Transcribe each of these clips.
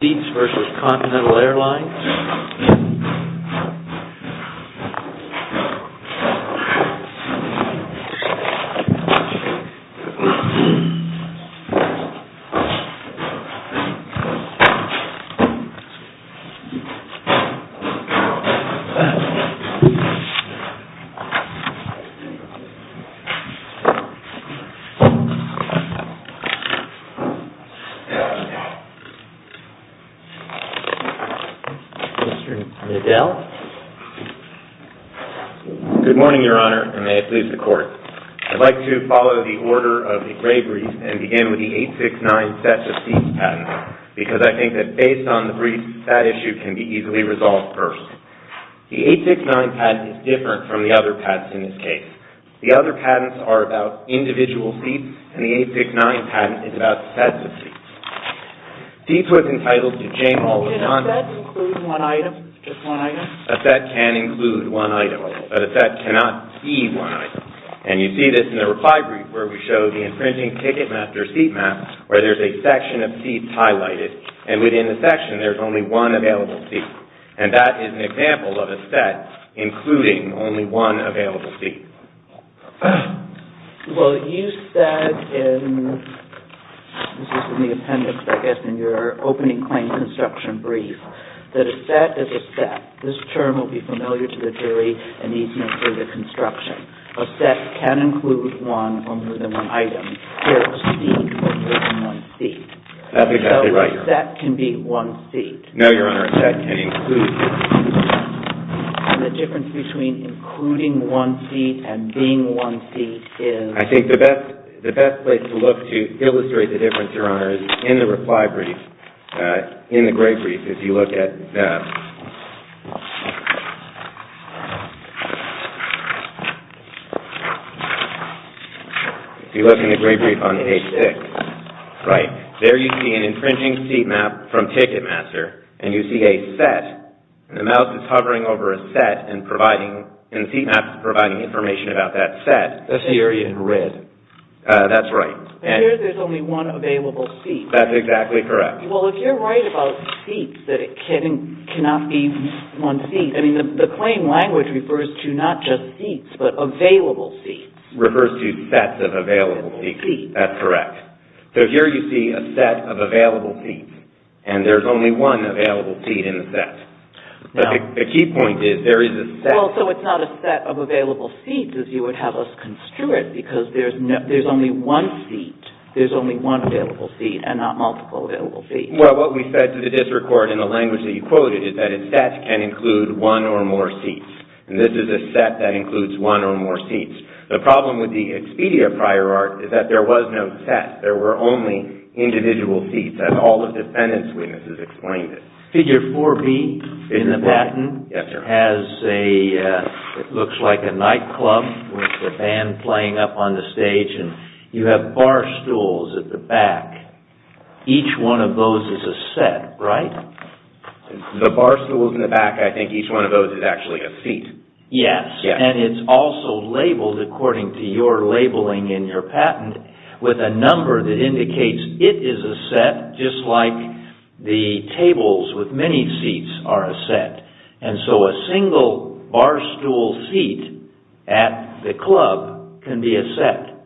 SEATS v. CONTINENTAL AIRLINES Mr. Nadel. Good morning, Your Honor, and may it please the Court. I'd like to follow the order of the Gray brief and begin with the 869 Sets of Seats patent, because I think that based on the brief, that issue can be easily resolved first. The 869 patent is different from the other patents in this case. The other patents are about individual seats, and the 869 patent is about sets of seats. Seats was entitled to Jane Holden. Can a set include one item, just one item? A set can include one item, but a set cannot see one item. And you see this in the reply brief, where we show the imprinting ticket map, their seat map, where there's a section of seats highlighted, and within the section, there's only one available seat. And that is an example of a set including only one available seat. Well, you said in the appendix, I guess, in your opening claim construction brief, that a set is a set. This term will be familiar to the jury, and needs no further construction. A set can include one, or more than one item. Here, a seat is one seat. That's exactly right, Your Honor. So a set can be one seat. No, Your Honor, a set can include one seat. And the difference between including one seat and being one seat is? I think the best place to look to illustrate the difference, Your Honor, is in the reply brief, in the gray brief, if you look at... If you look in the gray brief on page six. Right. There you see an infringing seat map from Ticketmaster, and you see a set. The mouse is hovering over a set, and the seat map is providing information about that set. That's the area in red. That's right. And here, there's only one available seat. That's exactly correct. Well, if you're right about seats, that it cannot be one seat, I mean, the claim language refers to not just seats, but available seats. It refers to sets of available seats. Available seats. That's correct. So, here you see a set of available seats, and there's only one available seat in the set. The key point is, there is a set... Well, so it's not a set of available seats, as you would have us construe it, because there's only one seat. There's only one available seat, and not multiple available seats. Well, what we said to the district court in the language that you quoted is that a set can include one or more seats. And this is a set that includes one or more seats. The problem with the Expedia prior art is that there was no set. There were only individual seats, as all the defendants' witnesses explained it. Figure 4B in the patent has a... It looks like a nightclub with a band playing up on the stage, and you have bar stools at the back. Each one of those is a set, right? The bar stools in the back, I think each one of those is actually a seat. Yes, and it's also labeled according to your labeling in your patent with a number that indicates it is a set, just like the tables with many seats are a set. And so a single bar stool seat at the club can be a set,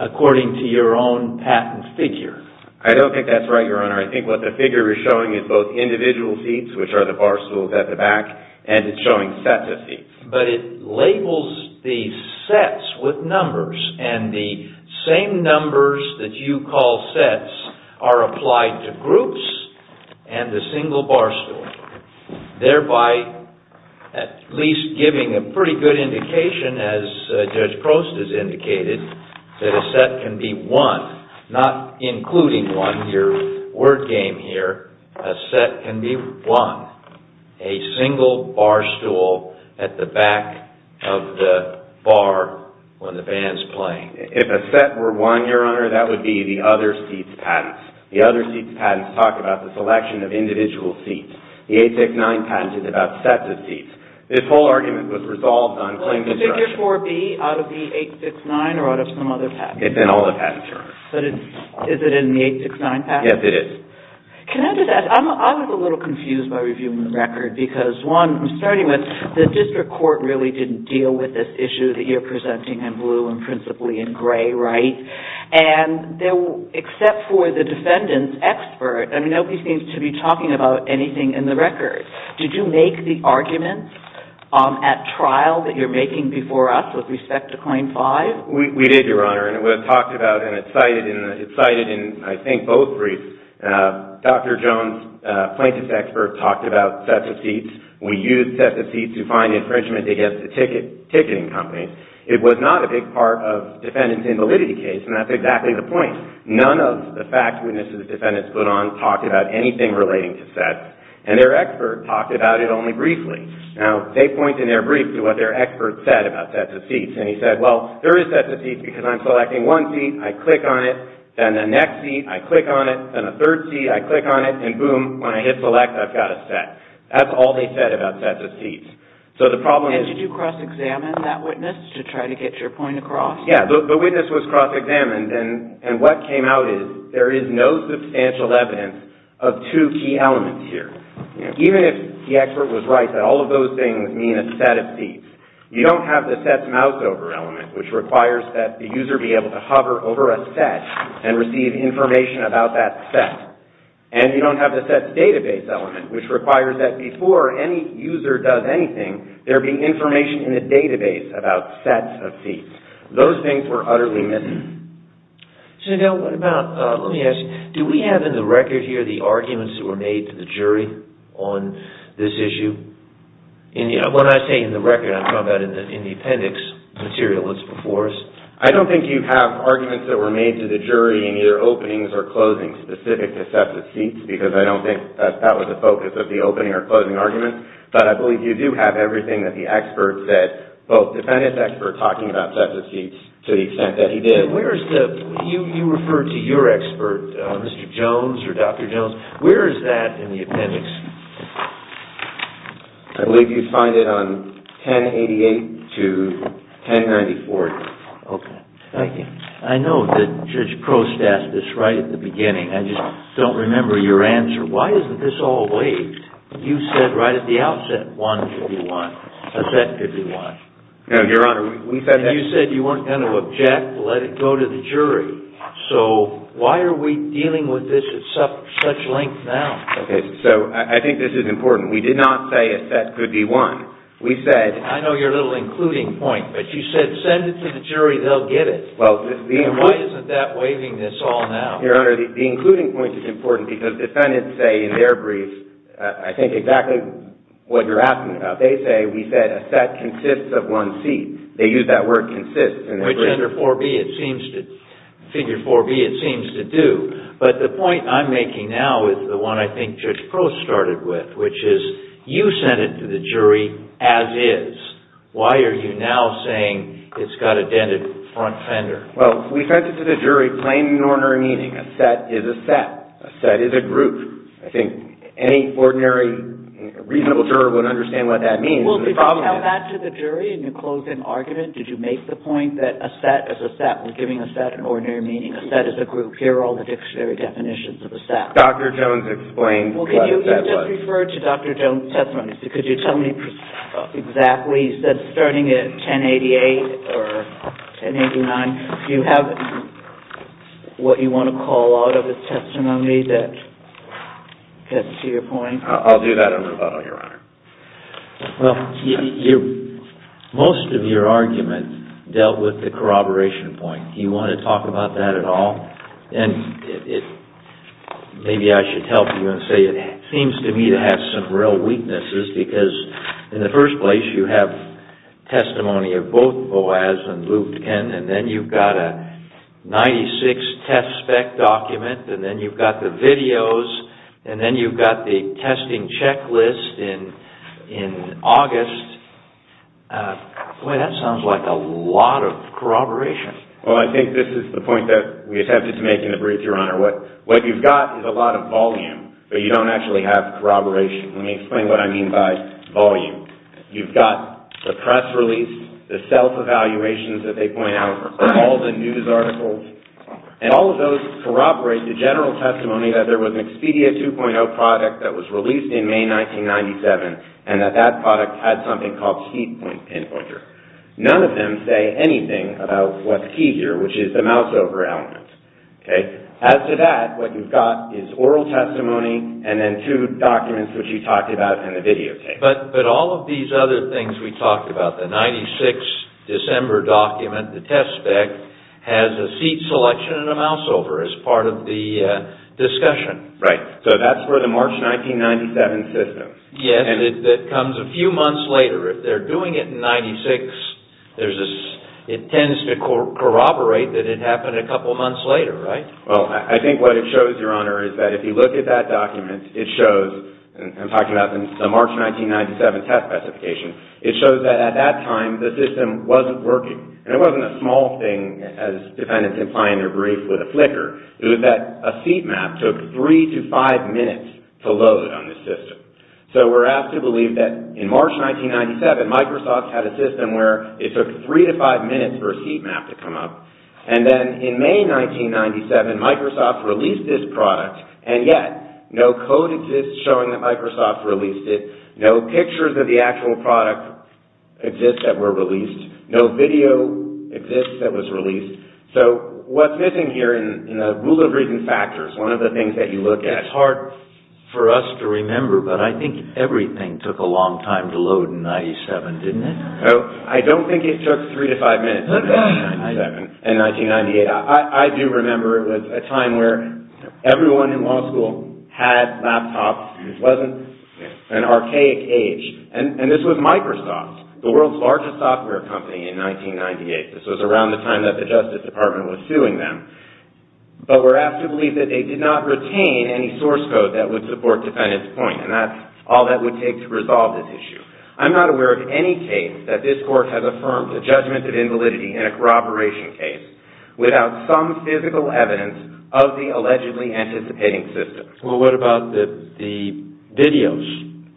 according to your own patent figure. I don't think that's right, Your Honor. I think what the figure is showing is both individual seats, which are the bar stools at the back, and it's showing sets of seats. But it labels the sets with numbers, and the same numbers that you call sets are applied to groups and the single bar stool, thereby at least giving a pretty good indication, as Judge Crost has indicated, that a set can be one, not including one, your word game here. A set can be one, a single bar stool at the back of the bar when the band's playing. If a set were one, Your Honor, that would be the other seat's patents. The other seat's patents talk about the selection of individual seats. The 869 patent is about sets of seats. This whole argument was resolved on claim destruction. Well, is the figure 4B out of the 869 or out of some other patent? It's in all the patent terms. But is it in the 869 patent? Yes, it is. Can I just ask? I was a little confused by reviewing the record because, one, starting with the district court really didn't deal with this issue that you're presenting in blue and principally in gray, right? And except for the defendant's expert, I mean, nobody seems to be talking about anything in the record. Did you make the argument at trial that you're making before us with respect to claim 5? We did, Your Honor. And it was talked about and it's cited in, I think, both briefs. Dr. Jones, plaintiff's expert, talked about sets of seats. We use sets of seats to find infringement against the ticketing companies. It was not a big part of the defendant's invalidity case, and that's exactly the point. None of the fact witnesses the defendants put on talked about anything relating to sets, and their expert talked about it only briefly. Now, they point in their brief to what their expert said about sets of seats, and he said, well, there is sets of seats because I'm selecting one seat, I click on it, then the next seat, I click on it, then the third seat, I click on it, and boom, when I hit select, I've got a set. That's all they said about sets of seats. And did you cross-examine that witness to try to get your point across? Yeah, the witness was cross-examined, and what came out is there is no substantial evidence of two key elements here. Even if the expert was right that all of those things mean a set of seats, you don't have the sets mouseover element, which requires that the user be able to hover over a set and receive information about that set, and you don't have the sets database element, which requires that before any user does anything, there be information in the database about sets of seats. Those things were utterly missing. So, now, what about, let me ask you, do we have in the record here the arguments that were made to the jury on this issue? When I say in the record, I'm talking about in the appendix material that's before us. I don't think you have arguments that were made to the jury in either openings or closings specific to sets of seats, because I don't think that was the focus of the opening or closing argument, but I believe you do have everything that the expert said, both the defendant's expert talking about sets of seats to the extent that he did. You referred to your expert, Mr. Jones or Dr. Jones. Where is that in the appendix? I believe you'd find it on 1088 to 1094. Okay. Thank you. I know that Judge Prost asked this right at the beginning. I just don't remember your answer. Why isn't this all waived? You said right at the outset, 151, a set 51. No, Your Honor, we said that... And you said you weren't going to object, let it go to the jury. So why are we dealing with this at such length now? Okay, so I think this is important. We did not say a set could be one. We said... I know you're a little including point, but you said send it to the jury, they'll get it. Why isn't that waiving this all now? Your Honor, the including point is important because defendants say in their brief, I think exactly what you're asking about. They say, we said, a set consists of one seat. They use that word consists. Which under Figure 4B it seems to do. But the point I'm making now is the one I think Judge Prost started with, which is you sent it to the jury as is. Why are you now saying it's got a dented front fender? Well, we sent it to the jury plain and ordinary meaning. A set is a set. A set is a group. I think any ordinary reasonable juror would understand what that means. Well, did you tell that to the jury in your closing argument? Did you make the point that a set is a set? We're giving a set an ordinary meaning. A set is a group. Here are all the dictionary definitions of a set. Dr. Jones explained what a set was. Well, can you just refer to Dr. Jones' testimony? Could you tell me exactly? He said starting at 1088 or 1089. Do you have what you want to call out of his testimony that gets to your point? I'll do that in rebuttal, Your Honor. Well, most of your argument dealt with the corroboration point. Do you want to talk about that at all? And maybe I should help you and say it seems to me to have some real weaknesses because in the first place you have testimony of both Boas and Lutkin, and then you've got a 96 test spec document, and then you've got the videos, and then you've got the testing checklist in August. Boy, that sounds like a lot of corroboration. Well, I think this is the point that we attempted to make in the brief, Your Honor. What you've got is a lot of volume, but you don't actually have corroboration. Let me explain what I mean by volume. You've got the press release, the self-evaluations that they point out, all the news articles, and all of those corroborate the general testimony that there was an Expedia 2.0 product that was released in May 1997, and that that product had something called speed point pinpointer. None of them say anything about what's key here, which is the mouseover element. As to that, what you've got is oral testimony and then two documents, which you talked about in the videotape. But all of these other things we talked about, the 96 December document, the test spec, has a seat selection and a mouseover as part of the discussion. Right. So that's for the March 1997 system. Yes, and it comes a few months later. If they're doing it in 96, it tends to corroborate that it happened a couple months later, right? Well, I think what it shows, Your Honor, is that if you look at that document, it shows, and I'm talking about the March 1997 test specification, it shows that at that time the system wasn't working. And it wasn't a small thing, as defendants imply in their brief with a flicker. It was that a seat map took three to five minutes to load on the system. So we're asked to believe that in March 1997, Microsoft had a system where it took three to five minutes for a seat map to come up. And then in May 1997, Microsoft released this product, and yet no code exists showing that Microsoft released it. No pictures of the actual product exist that were released. No video exists that was released. So what's missing here in the rule of reason factors, one of the things that you look at. It's hard for us to remember, but I think everything took a long time to load in 97, didn't it? No, I don't think it took three to five minutes in 1997 and 1998. I do remember it was a time where everyone in law school had laptops. It wasn't an archaic age. And this was Microsoft, the world's largest software company in 1998. This was around the time that the Justice Department was suing them. But we're asked to believe that they did not retain any source code that would support defendants' point. And that's all that would take to resolve this issue. I'm not aware of any case that this court has affirmed a judgment of invalidity in a corroboration case without some physical evidence of the allegedly anticipating system. Well, what about the videos?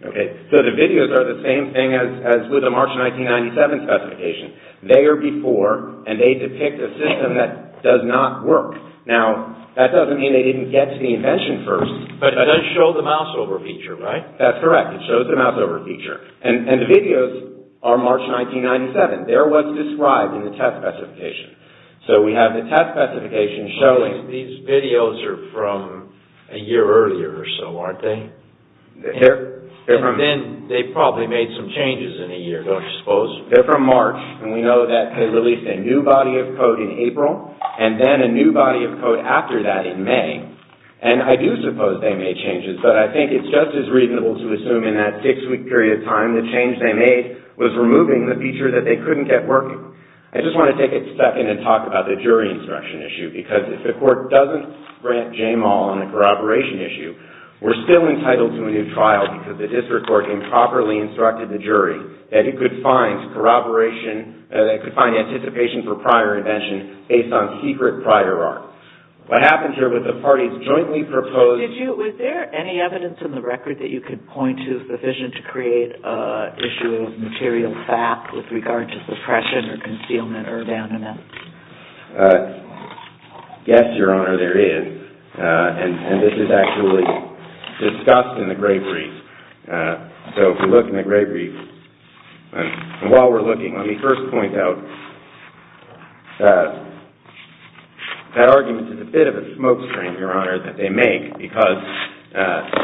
Okay, so the videos are the same thing as with the March 1997 specification. They are before, and they depict a system that does not work. Now, that doesn't mean they didn't get to the invention first. But it does show the mouseover feature, right? That's correct. It shows the mouseover feature. And the videos are March 1997. They're what's described in the test specification. So we have the test specification showing... These videos are from a year earlier or so, aren't they? They're from... And then they probably made some changes in a year, don't you suppose? They're from March, and we know that they released a new body of code in April, and then a new body of code after that in May. And I do suppose they made changes, but I think it's just as reasonable to assume in that six-week period of time the change they made was removing the feature that they couldn't get working. I just want to take a second and talk about the jury instruction issue, because if the court doesn't grant Jamal on the corroboration issue, we're still entitled to a new trial, because the district court improperly instructed the jury that it could find anticipation for prior invention based on secret prior art. What happened here was the parties jointly proposed... Was there any evidence in the record that you could point to sufficient to create an issue of material fact with regard to suppression or concealment or abandonment? Yes, Your Honor, there is. And this is actually discussed in the Grave Reef. So if you look in the Grave Reef, and while we're looking, let me first point out that argument is a bit of a smoke screen, Your Honor, that they make because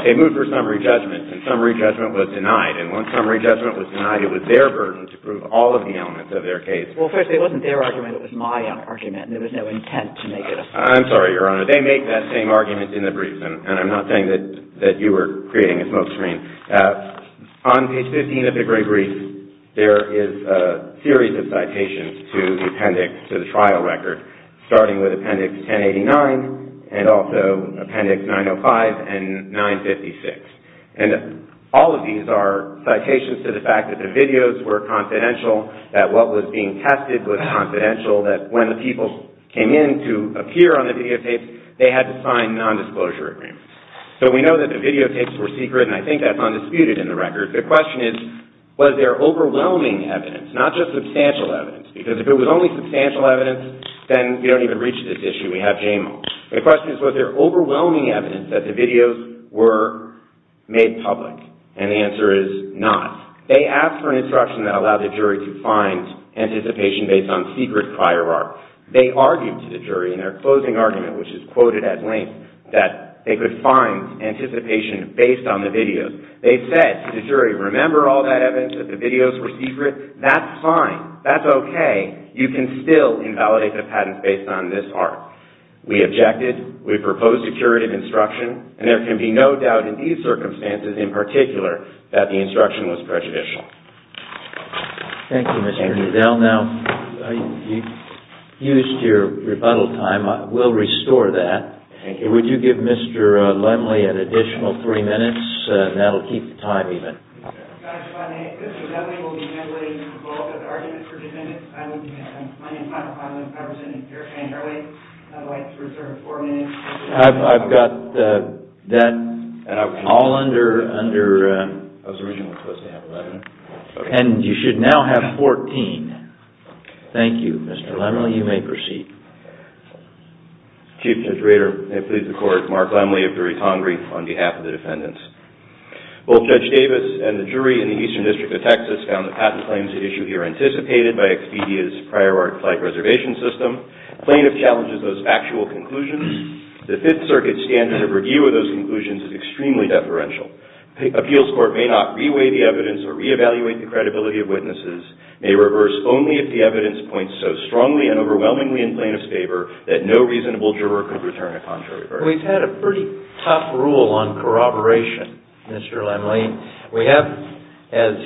they moved for summary judgment, and summary judgment was denied. And when summary judgment was denied, it was their version to prove all of the elements of their case. Well, first, it wasn't their argument. It was my argument, and there was no intent to make it a... I'm sorry, Your Honor. They make that same argument in the brief, and I'm not saying that you were creating a smoke screen. On page 15 of the Grave Reef, there is a series of citations to the appendix to the trial record, starting with appendix 1089 and also appendix 905 and 956. And all of these are citations to the fact that the videos were confidential, that what was being tested was confidential, that when the people came in to appear on the videotapes, they had to sign nondisclosure agreements. So we know that the videotapes were secret, and I think that's undisputed in the record. The question is, was there overwhelming evidence, not just substantial evidence, because if it was only substantial evidence, then we don't even reach this issue. We have JMO. The question is, was there overwhelming evidence that the videos were made public, and the answer is not. They asked for an instruction that allowed the jury to find anticipation based on secret prior art. They argued to the jury in their closing argument, which is quoted at length, that they could find anticipation based on the videos. They said to the jury, remember all that evidence that the videos were secret? That's fine. That's okay. You can still invalidate the patents based on this art. We objected. We proposed a curative instruction, and there can be no doubt in these circumstances in particular that the instruction was prejudicial. Thank you, Mr. Neudel. Now, you've used your rebuttal time. We'll restore that. Would you give Mr. Lemley an additional three minutes? That'll keep the time even. I've got that all under... I was originally supposed to have 11. And you should now have 14. Thank you, Mr. Lemley. You may proceed. Chief Judge Rader, may it please the Court, Mark Lemley of the retongue brief on behalf of the defendants. Both Judge Davis and the jury in the Eastern District of Texas found the patent claims at issue here anticipated by Expedia's prior art flight reservation system. Plaintiff challenges those factual conclusions. The Fifth Circuit standard of review of those conclusions is extremely deferential. Appeals Court may not re-weigh the evidence or re-evaluate the credibility of witnesses, may reverse only if the evidence points so strongly and overwhelmingly in plaintiff's favor that no reasonable juror could return a contrary verdict. We've had a pretty tough rule on corroboration, Mr. Lemley. We have, as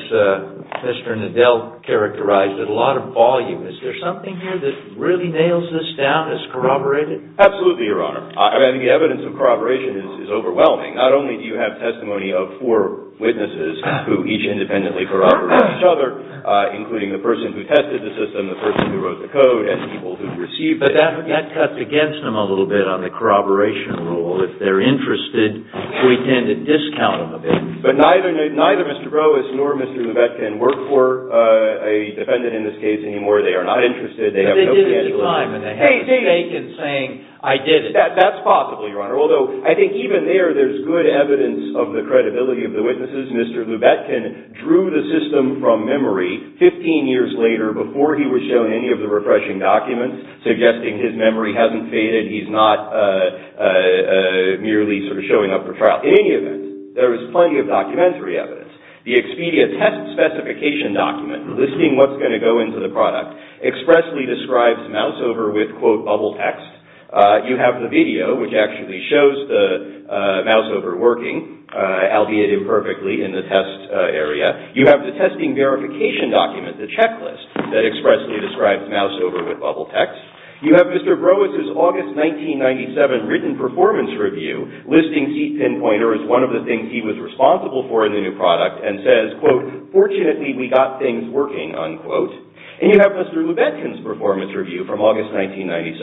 Mr. Neudel characterized, a lot of volume. Is there something here that really nails this down as corroborated? Absolutely, Your Honor. I mean, the evidence of corroboration is overwhelming. Not only do you have testimony of four witnesses who each independently corroborated each other, including the person who tested the system, the person who wrote the code, and people who received it. But that cuts against them a little bit on the corroboration rule. If they're interested, we tend to discount them a bit. But neither Mr. Broas nor Mr. Levette can work for a defendant in this case anymore. They are not interested. They have no financial income. But they did at the time. And they have a stake in saying, I did it. That's possible, Your Honor. Although, I think even there, there's good evidence of the credibility of the witnesses. Mr. Lubetkin drew the system from memory 15 years later before he was shown any of the refreshing documents, suggesting his memory hasn't faded. He's not merely sort of showing up for trial. In any event, there is plenty of documentary evidence. The Expedia test specification document, listing what's going to go into the product, expressly describes Moussover with, quote, bubble text. You have the video, which actually shows the Moussover working, albeit imperfectly in the test area. You have the testing verification document, the checklist, that expressly describes Moussover with bubble text. You have Mr. Broas' August 1997 written performance review, listing seat pinpointer as one of the things he was responsible for in the new product, and says, quote, fortunately, we got things working, unquote. And you have Mr. Lubetkin's performance review from August 1997,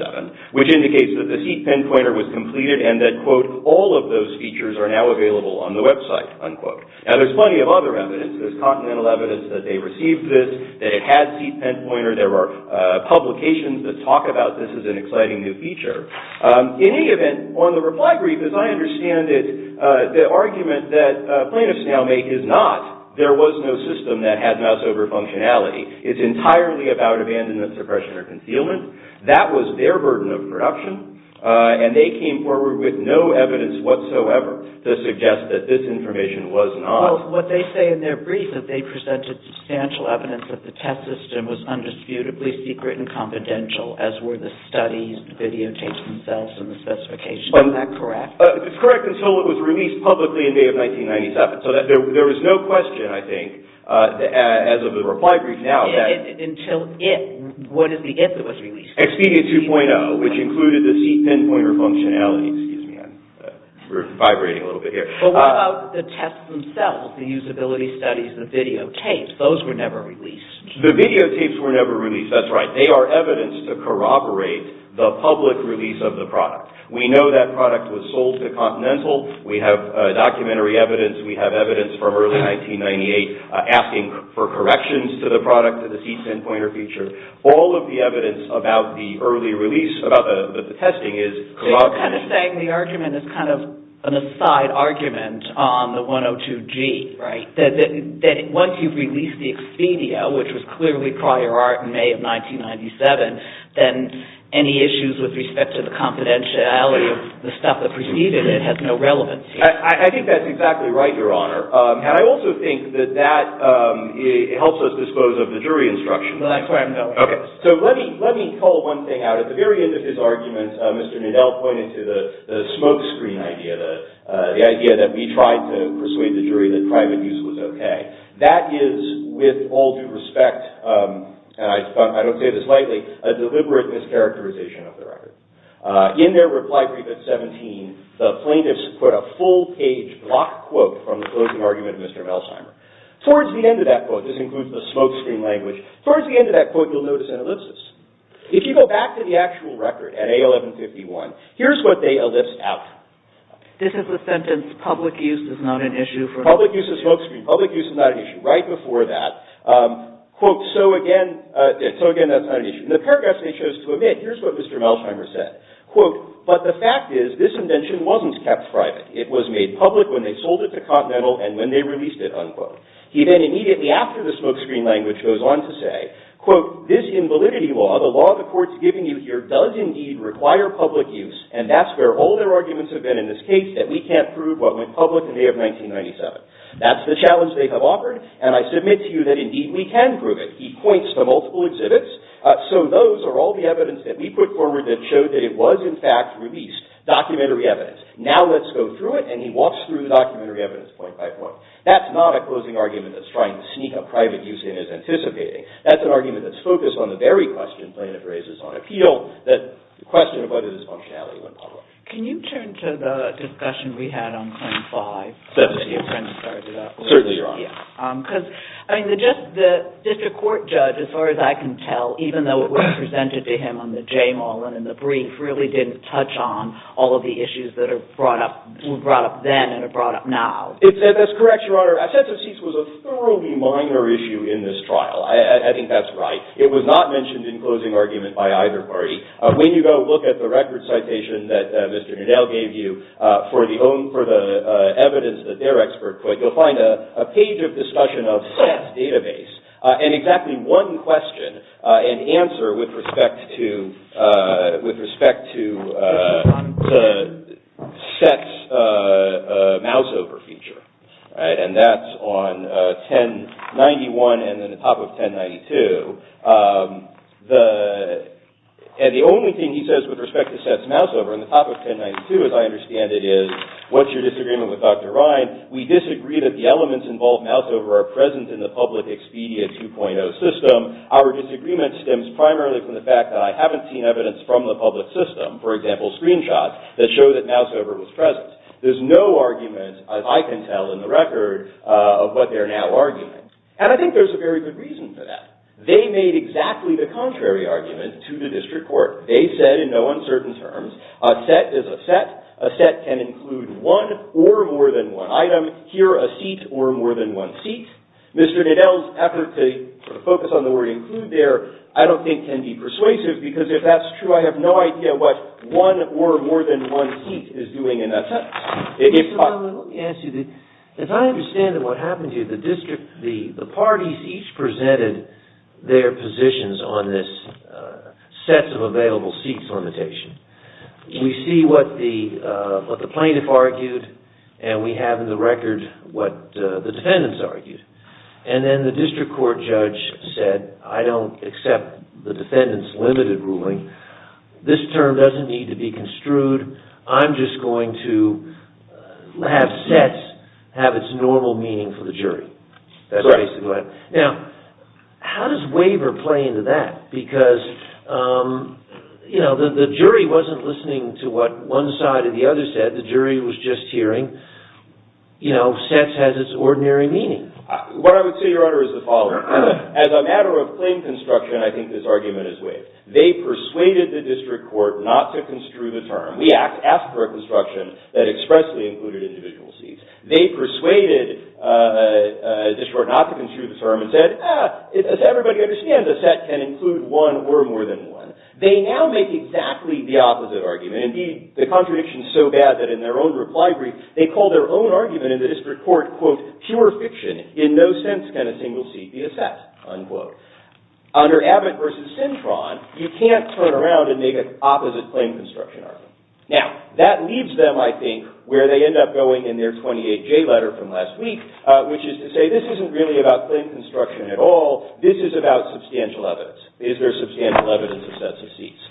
which indicates that the seat pinpointer was completed and that, quote, all of those features are now available on the website, unquote. Now, there's plenty of other evidence. There's continental evidence that they received this, that it had seat pinpointer. There were publications that talk about this as an exciting new feature. In any event, on the reply brief, as I understand it, the argument that plaintiffs now make is not, there was no system that had Moussover functionality. It's entirely about abandonment, suppression, or concealment. That was their burden of production. And they came forward with no evidence whatsoever to suggest that this information was not. Well, what they say in their brief is that they presented substantial evidence that the test system was undisputably secret and confidential, as were the studies, the videotapes themselves, and the specifications. Is that correct? It's correct until it was released publicly in May of 1997. So there was no question, I think, as of the reply brief. Until it was released. Expedia 2.0, which included the seat pinpointer functionality. Excuse me, we're vibrating a little bit here. But what about the tests themselves, the usability studies, the videotapes? Those were never released. The videotapes were never released. That's right. They are evidence to corroborate the public release of the product. We know that product was sold to Continental. We have documentary evidence. We have evidence from early 1998 asking for corrections to the product, to the seat pinpointer feature. All of the evidence about the early release, about the testing, is corroborated. So you're kind of saying the argument is kind of an aside argument on the 102G. Right. That once you've released the Expedia, which was clearly prior art in May of 1997, then any issues with respect to the confidentiality of the stuff that preceded it has no relevance here. I think that's exactly right, Your Honor. And I also think that that helps us dispose of the jury instructions. That's what I'm telling you. Okay. So let me call one thing out. At the very end of his argument, Mr. Nadel pointed to the smokescreen idea, the idea that we tried to persuade the jury that private use was okay. That is, with all due respect, and I don't say this lightly, a deliberate mischaracterization of the record. In their reply brief at 17, the plaintiffs put a full-page block quote from the closing argument of Mr. Melsheimer. Towards the end of that quote, this includes the smokescreen language, towards the end of that quote, you'll notice an ellipsis. If you go back to the actual record at A1151, here's what they ellipsed out. This is the sentence, public use is not an issue. Public use of smokescreen, public use is not an issue. Right before that, quote, so again, so again, that's not an issue. In the paragraphs they chose to omit, here's what Mr. Melsheimer said. Quote, but the fact is, this invention wasn't kept private. It was made public when they sold it to Continental and when they released it, unquote. He then immediately after the smokescreen language goes on to say, quote, this invalidity law, the law the court's giving you here, does indeed require public use and that's where all their arguments have been in this case that we can't prove what went public in May of 1997. That's the challenge they have offered and I submit to you that indeed we can prove it. He points to multiple exhibits, so those are all the evidence that we put forward that showed that it was in fact released, documentary evidence. Now let's go through it and he walks through the documentary evidence point by point. That's not a closing argument that's trying to sneak a private use in as anticipating. That's an argument that's focused on the very question plaintiff raises on appeal, the question of whether this functionality went public. Can you turn to the discussion we had on Claim 5? Certainly, Your Honor. Certainly, Your Honor. Because, I mean, the district court judge, as far as I can tell, and in the brief, really didn't touch on all of the issues that were brought up then and are brought up now. That's correct, Your Honor. Assessive cease was a thoroughly minor issue in this trial. I think that's right. It was not mentioned in closing argument by either party. When you go look at the record citation that Mr. Nadel gave you for the evidence that their expert put, you'll find a page of discussion of Seth's database and exactly one question and answer with respect to Seth's mouseover feature. And that's on 1091 and then the top of 1092. And the only thing he says with respect to Seth's mouseover in the top of 1092, as I understand it, is what's your disagreement with Dr. Ryan? We disagree that the elements involved in mouseover are present in the public Expedia 2.0 system. Our disagreement stems primarily from the fact that I haven't seen evidence from the public system. For example, screenshots that show that mouseover was present. There's no argument, as I can tell in the record, of what they're now arguing. And I think there's a very good reason for that. They made exactly the contrary argument to the district court. They said in no uncertain terms, a set is a set, a set can include one or more than one item, here a seat or more than one seat. Mr. Nadel's effort to focus on the word include there I don't think can be persuasive because if that's true, I have no idea what one or more than one seat is doing in that sentence. If I understand what happened here, the parties each presented their positions on this set of available seats limitation. We see what the plaintiff argued and we have in the record what the defendants argued. And then the district court judge said I don't accept the defendant's limited ruling. This term doesn't need to be construed. I'm just going to have sets have its normal meaning for the jury. How does waiver play into that? Because the jury wasn't listening to what one side or the other said. The jury was just hearing sets has its ordinary meaning. What I would say, Your Honor, is the following. As a matter of plain construction, I think this argument is waived. They persuaded the district court not to construe the term. We ask for a construction that expressly included individual seats. They persuaded the district court not to construe the term and said, does everybody understand a set can include one or more than one? They now make exactly the opposite argument. Indeed, the contradiction is so bad that in their own reply brief, they call their own argument in the district court pure fiction. In no sense can a single seat be assessed. Under Abbott v. Sintron, you can't turn around and make an opposite plain construction argument. Now, that leaves them, I think, where they end up going in their 28J letter from last week, which is to say, this isn't really about plain construction at all. This is about substantial evidence. Is there substantial evidence of sets of seats?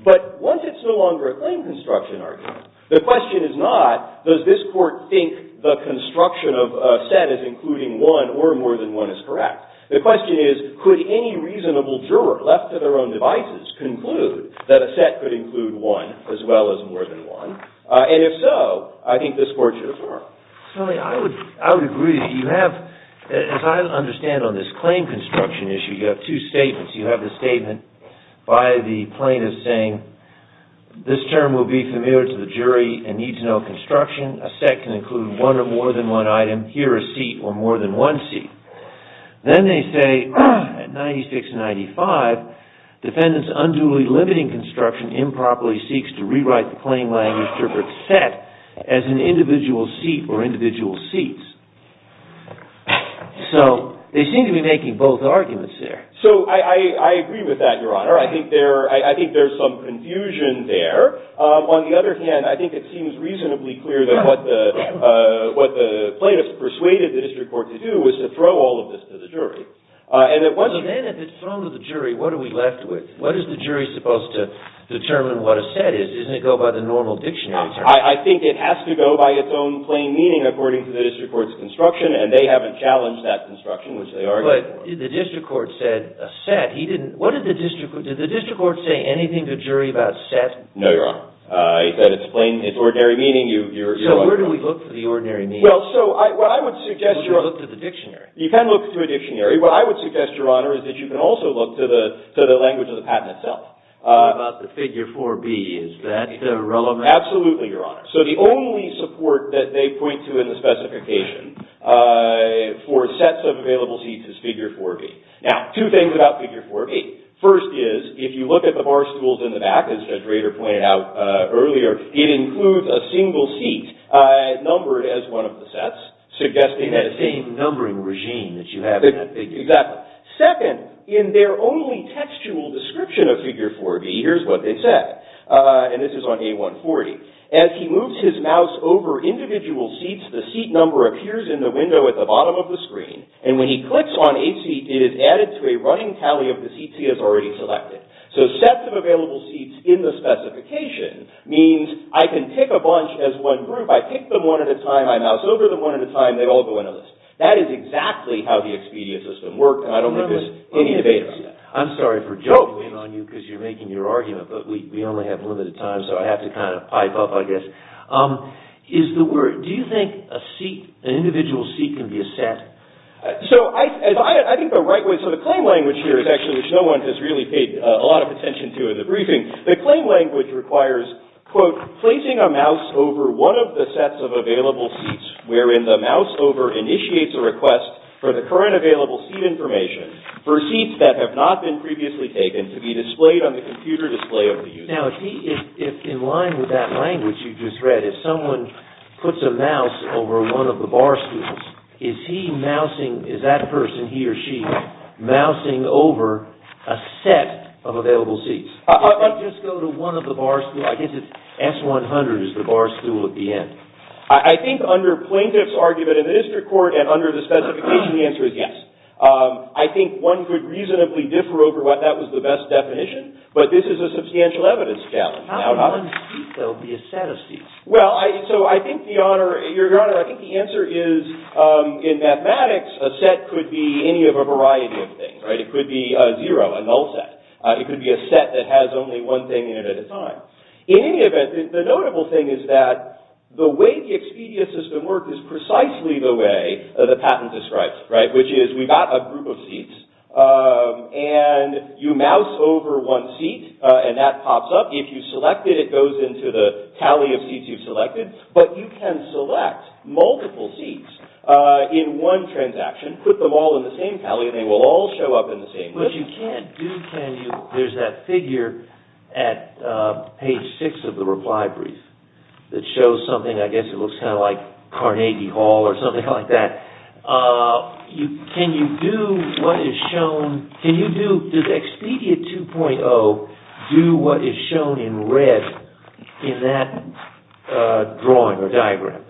But once it's no longer a plain construction argument, the question is not, does this court think the construction of a set is including one or more than one is correct? The question is, could any reasonable juror left to their own devices conclude that a set could include one as well as more than one? And if so, I think this court should affirm. I would agree that you have, as I understand on this claim construction issue, you have two statements. You have the statement by the plaintiff saying, this term will be familiar to the jury and needs no construction. A set can include one or more than one item, here a seat or more than one seat. Then they say, at 96 and 95, defendants unduly limiting construction improperly seeks to rewrite the plain language interpret set as an individual seat or individual seats. So, they seem to be making both arguments there. So, I agree with that, Your Honor. I think there's some confusion there. On the other hand, I think it seems reasonably clear that what the plaintiff persuaded the district court to do was to throw all of this to the jury. And it wasn't... Well, then if it's thrown to the jury, what are we left with? What is the jury supposed to determine what a set is? Isn't it go by the normal dictionary? I think it has to go by its own plain meaning according to the district court's construction and they haven't challenged that construction, which they argued for. But the district court said a set. He didn't... Did the district court say anything to the jury about set? No, Your Honor. He said it's plain... It's ordinary meaning. So, where do we look for the ordinary meaning? Well, so, what I would suggest, Your Honor... You can look to the dictionary. You can look to a dictionary. What I would suggest, Your Honor, is that you can also look to the language of the patent itself. What about the figure 4B? Is that relevant? Absolutely, Your Honor. So, the only support that they point to in the specification for sets of available seats is figure 4B. Now, two things about figure 4B. First is, if you look at the bar stools in the back, as Judge Rader pointed out earlier, it includes a single seat numbered as one of the sets, suggesting that... That same numbering regime that you have in that picture. Exactly. Second, in their only textual description of figure 4B, here's what they said. And this is on A140. As he moves his mouse over individual seats, the seat number appears in the window at the bottom of the screen. And when he clicks on a seat, it is added to a running tally of the seats he has already selected. So, sets of available seats in the specification means I can pick a bunch as one group. I pick them one at a time. I mouse over them one at a time. They all go into this. That is exactly how the Expedia system works. I don't think there's any debate on that. I'm sorry for juggling on you because you're making your argument, but we only have limited time, so I have to kind of pipe up, I guess. Is the word... Do you think a seat, an individual seat, can be a set? So, I think the right way... So, the claim language here is actually which no one like this really paid a lot of attention to in the briefing. The claim language requires, quote, placing a mouse over one of the sets of available seats wherein the mouse over initiates a request for the current available seat information for seats that have not been previously taken to be displayed on the computer display of the user. Now, if he... If in line with that language you just read, if someone puts a mouse over one of the bar stools, is he mousing... Is that person, he or she, mousing over a set of available seats or does he just go to one of the bar stools? I guess it's S-100 is the bar stool at the end. I think under plaintiff's argument in the district court and under the specification, the answer is yes. I think one could reasonably differ over what that was the best definition, but this is a substantial evidence challenge. How would one seat though be a set of seats? Well, I... So, I think, Your Honor, I think the answer is in mathematics, a set could be any of a variety of things, right? It could be a zero, a null set. It could be a set that has only one thing in it at a time. In any event, the notable thing is that the way the Expedia system works is precisely the way the patent describes it, right? Which is we've got a group of seats and you mouse over one seat and that pops up. If you select it, it goes into the tally of seats you've selected, but you can select multiple seats in one transaction, put them all in the same tally and they will all show up in the same... But you can't do... There's that figure at page six of the reply brief that shows something, I guess it looks kind of like Carnegie Hall or something like that. Can you do what is shown... Can you do... Does Expedia 2.0 do what is shown in red in that drawing or diagram?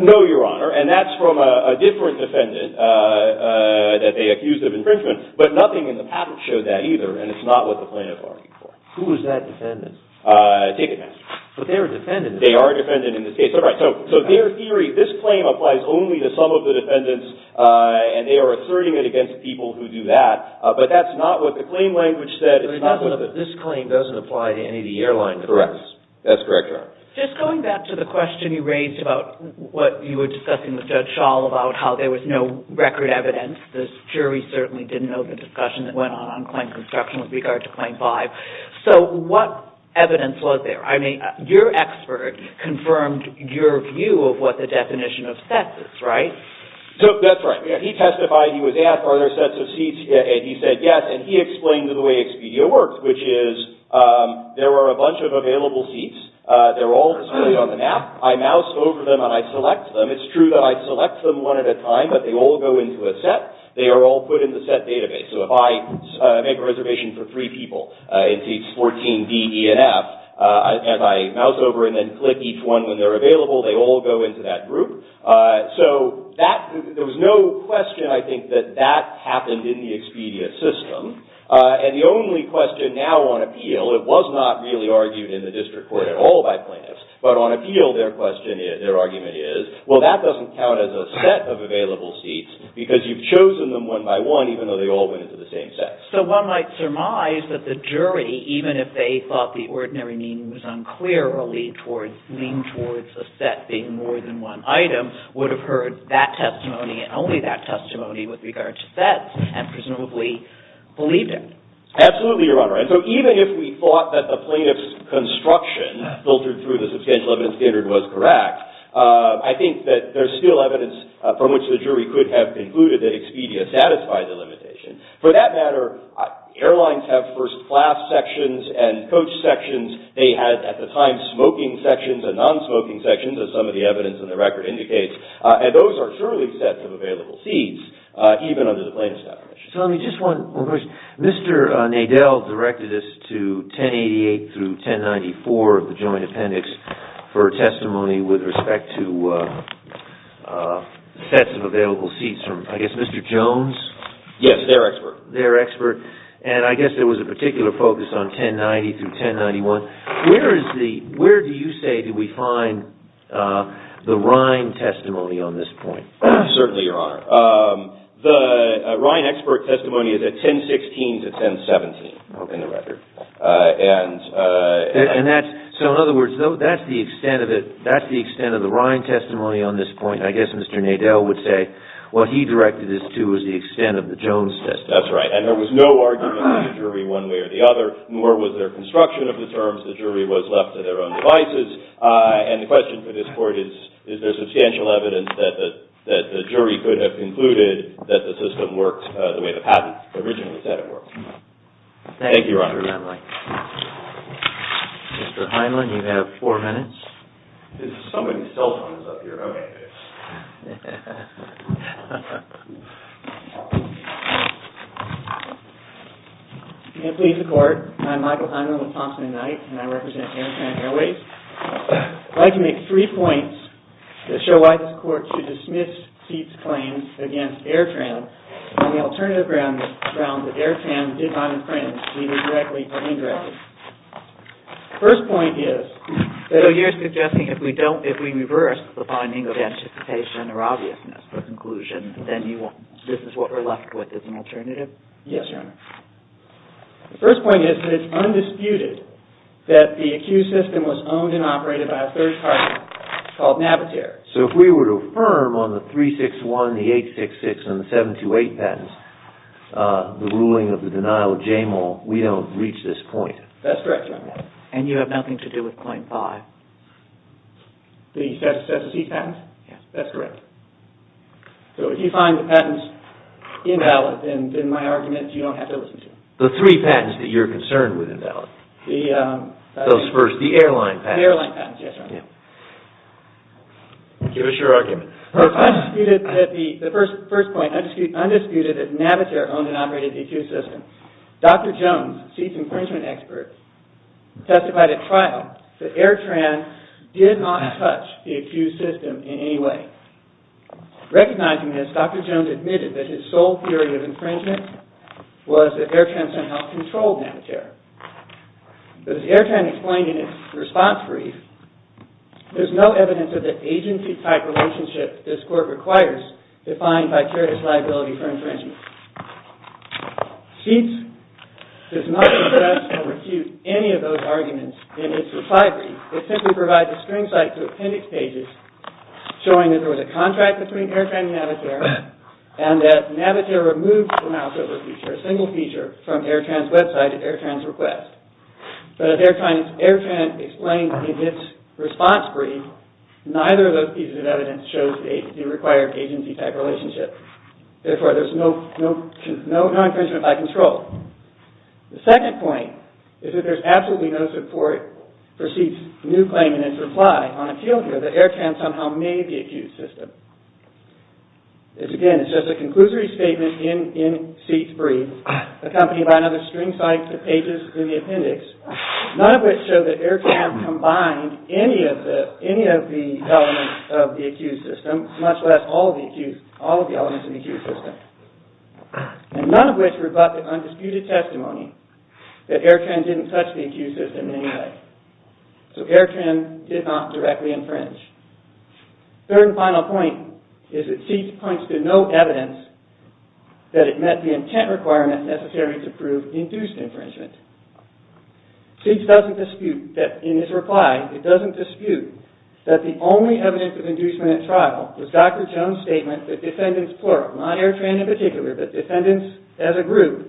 No, Your Honor, and that's from a different defendant that they accused of infringement, but nothing in the patent showed that either, and it's not what the plaintiff argued for. Who is that defendant? Ticketmaster. But they're defendants. They are defendants in this case. So their theory, this claim applies only to some of the defendants and they are asserting it against people who do that, but that's not what the claim language said. This claim doesn't apply to any of the airlines. Correct. That's correct, Your Honor. Just going back to the question you raised about what you were discussing with Judge Schall about how there was no record evidence. The jury certainly didn't know the discussion that went on on claim construction with regard to claim five. So what evidence was there? I mean, your expert confirmed your view of what the definition of sets is, right? So that's right. He testified, he was asked are there sets of seats, and he said yes, and he explained the way Expedia works, which is there are a bunch of available seats. They're all on the map. I mouse over them and I select them. It's true that I select them one at a time, but they all go into a set. They are all put in the set database. So if I make a reservation for three people in seats 14 D, E, and F, and I mouse over and click each one when they're available, they all go into that group. So there was no question I think that that happened in the Expedia system, and the only question now on appeal, it was not really argued in the district court at all by plaintiffs, but on appeal, their argument is, well, that doesn't count as a set of available seats, because you've chosen them one by one, even though they all went into the same set. So one might surmise that the jury, even if they thought the ordinary meaning was unclear, or leaned towards a set being more than one item, would have heard that testimony and only that testimony with regard to a set of Now, the plaintiffs have concluded that Expedia satisfied the limitation. For that matter, airlines have first-class sections and coach sections. They had, at the time, smoking sections and non-smoking sections, as some of the evidence in the record indicates, and those are truly sets of non-smoking Now, I guess Mr. Jones Yes, their expert. their expert, and I guess there was a particular focus on 1090 through 1091. Where do you say did we find the Ryan testimony on this point? Certainly, Your Honor. The Ryan expert testimony is at 1016 to 1017 in the And what he directed this to was the extent of the Jones testimony. That's right. And there was no argument from the jury one way or the other. Nor was there construction of the terms. The jury was left to their own devices. And guess the question for this court is is there substantial evidence that the jury could have concluded that the system worked the way the patent originally said it worked. Thank you, Your Honor. Mr. Heinlein, you have four minutes. There's so many cell phones up here. Okay. If you can please the court, I'm Michael Heinlein with Thompson and Knight and I represent Airtram Airways. I'd like to make three points to show why this court should dismiss these claims against Airtram on the alternative grounds that Airtram did not have any anticipation or obviousness for conclusion then this is what we're left with as an alternative? Yes, Your Honor. The first point is undisputed that the accused system was owned and operated by a third party called Navitaire. So if we were to affirm on the 3-6-1, the 8-6-6 and the 7-2-8 patents the ruling of the denial of JAMAL, we don't reach this point. That's correct, Your Honor. have nothing to do with point five? The Cessna C patents? Yes. That's correct. So if you find the patents invalid then my argument is you don't have to listen to them. The three patents that you're concerned with are invalid? The airline patents. The airline patents, yes, Your Honor. Give us your argument. The first point is undisputed that Navitaire owned and operated the accused system. Dr. Jones admitted that his sole theory of infringement was that Airtrain somehow controlled Navitaire. But as Airtrain its response brief, there's no evidence of the agency-type relationship this court requires defined by carrier's liability for infringement. Sheetz does not address or refute any of those arguments in its recovery. It simply provides a string site to appendix pages showing that there was a contract between Airtrain and Navitaire and that Navitaire removed the single feature from Airtrain's website and Airtrain's request. But as Airtrain explained in its response brief, neither of those pieces of evidence shows the required agency-type relationship. Therefore, there's no infringement by control. The second point is that there's absolutely no support for Sheetz's new claim in his reply on appeal here that Airtrain somehow made the accused system. Again, it's just a conclusory statement in Sheetz's brief accompanied by another string site to pages in the appendix, none of which show that Airtrain combined any of the elements of the accused system, much less all of the elements of the accused system, and none of which rebut the undisputed infringement of the accused system. Third and final point is that Sheetz points to no evidence that it met the intent requirement necessary to prove induced infringement. Sheetz doesn't dispute that in his reply, he doesn't dispute that the only evidence of inducement at trial was Dr. Jones' statement that defendants plural, not Airtrain in particular, but defendants as a group,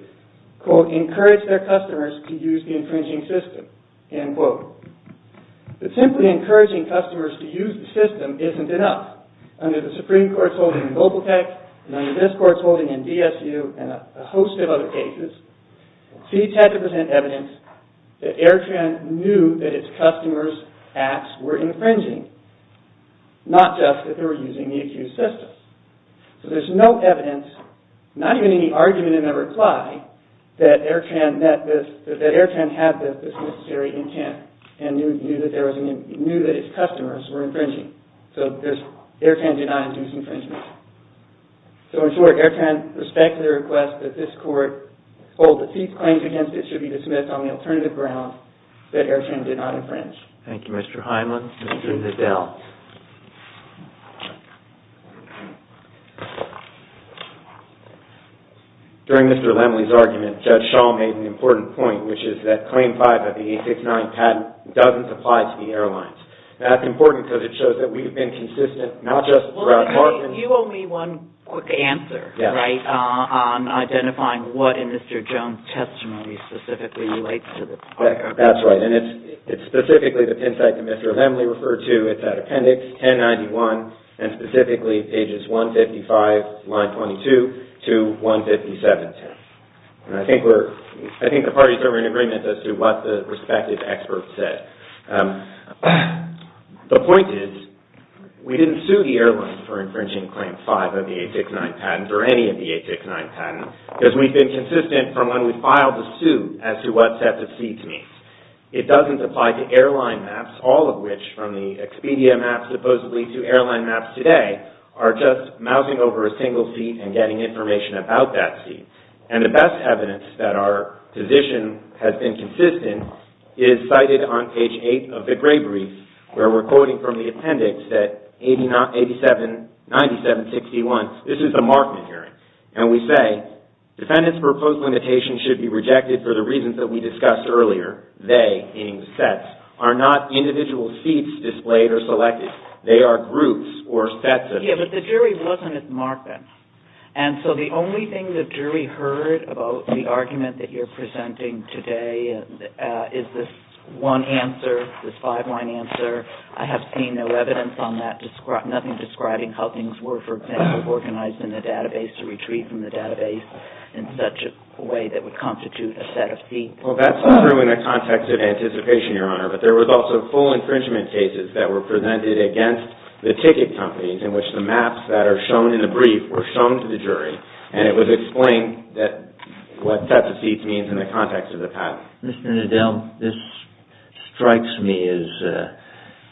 quote, encouraged their customers to use the infringing system, end quote. But simply encouraging customers to use the system isn't enough. Under the Supreme Court's holding in Global Tech and under this Court's holding in the accused system. So there's no evidence, not even any argument in that reply, that Airtrain met this, that Airtrain had this necessary intent and knew that its customers were infringing. So Airtrain did not induce infringement. So in short, Airtrain respected the request that this Court hold that these claims against it should be dismissed on the alternative ground that Airtrain did not infringe. Thank you, Mr. Heinlein. Mr. Nadel. During Mr. Lemley's argument, Judge Shaw made an important point, which is that Claim 5 of the 869 patent doesn't apply to the airlines. That's important because it shows that we've been consistent, not just the claim, but the claims. Judge Shaw said that the claim is not applicable to the airlines. And I think that's true. And Judge Shaw said that the claim is not applicable to the airlines. what Judge Shaw said. The point is, we didn't sue the airlines for infringing Claim 5 of the 869 patent, or any of the 869 patent, because we've been consistent from when we filed the suit as to what sets of seats it means. It doesn't apply to airline maps, all of which, from the Expedia maps supposedly to airline maps today, are just mousing over a single seat and getting information about that seat. And the best evidence that our position has been consistent is cited on page 8 of the suit. And the only thing the jury heard about the argument that you're presenting today is this one answer, this five-line answer. I have seen no evidence on that, nothing describing how things were, for example, organized in the database to retreat from the database in such a way that would constitute a set of seats. Well, that's true in the context of anticipation, Your Honor, but there was also full infringement cases that were presented against the ticket companies in which the maps that are shown in the brief were shown to the jury, and it was explained what sets of seats means in the context of the patent. Mr. Nadel, this strikes me as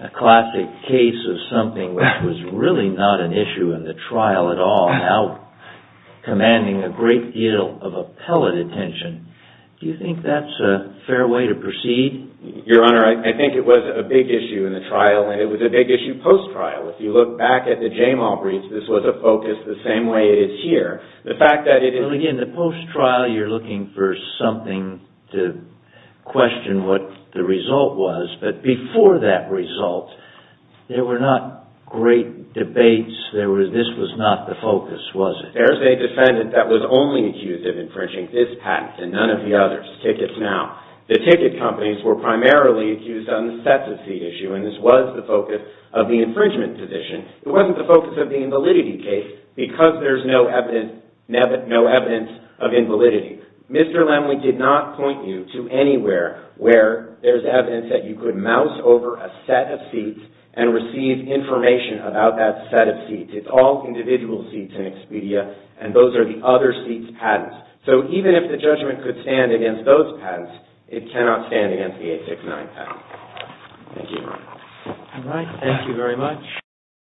a classic case of something that was really not an issue in the trial at all, now commanding a great deal of appellate attention. Do you think that's a fair way to proceed? Your Honor, I think it was a big issue in the trial, and it was a big issue post-trial. If you look back at the Jamal briefs, this was a focus the same way it is here. The fact that it is... Again, the post-trial, you're looking for something to question what the result was, but before that result, there were not great debates. This was not the focus, was it? There's a defendant that was only accused of infringing this patent and none of the others. The ticket companies were primarily accused on the sets of seat issue, and this was the focus of the infringement position. It wasn't the focus of the invalidity case because there's no evidence of invalidity. Mr. Lemley did not point you to anywhere where there's evidence that you could mouse over a set of seats and receive information about that set of seats. It's all individual seats in Expedia, and those are the other seats' patents. So even if the judgment could stand against those patents, it cannot stand against the 869 patent. Thank you. All right. Thank you very much.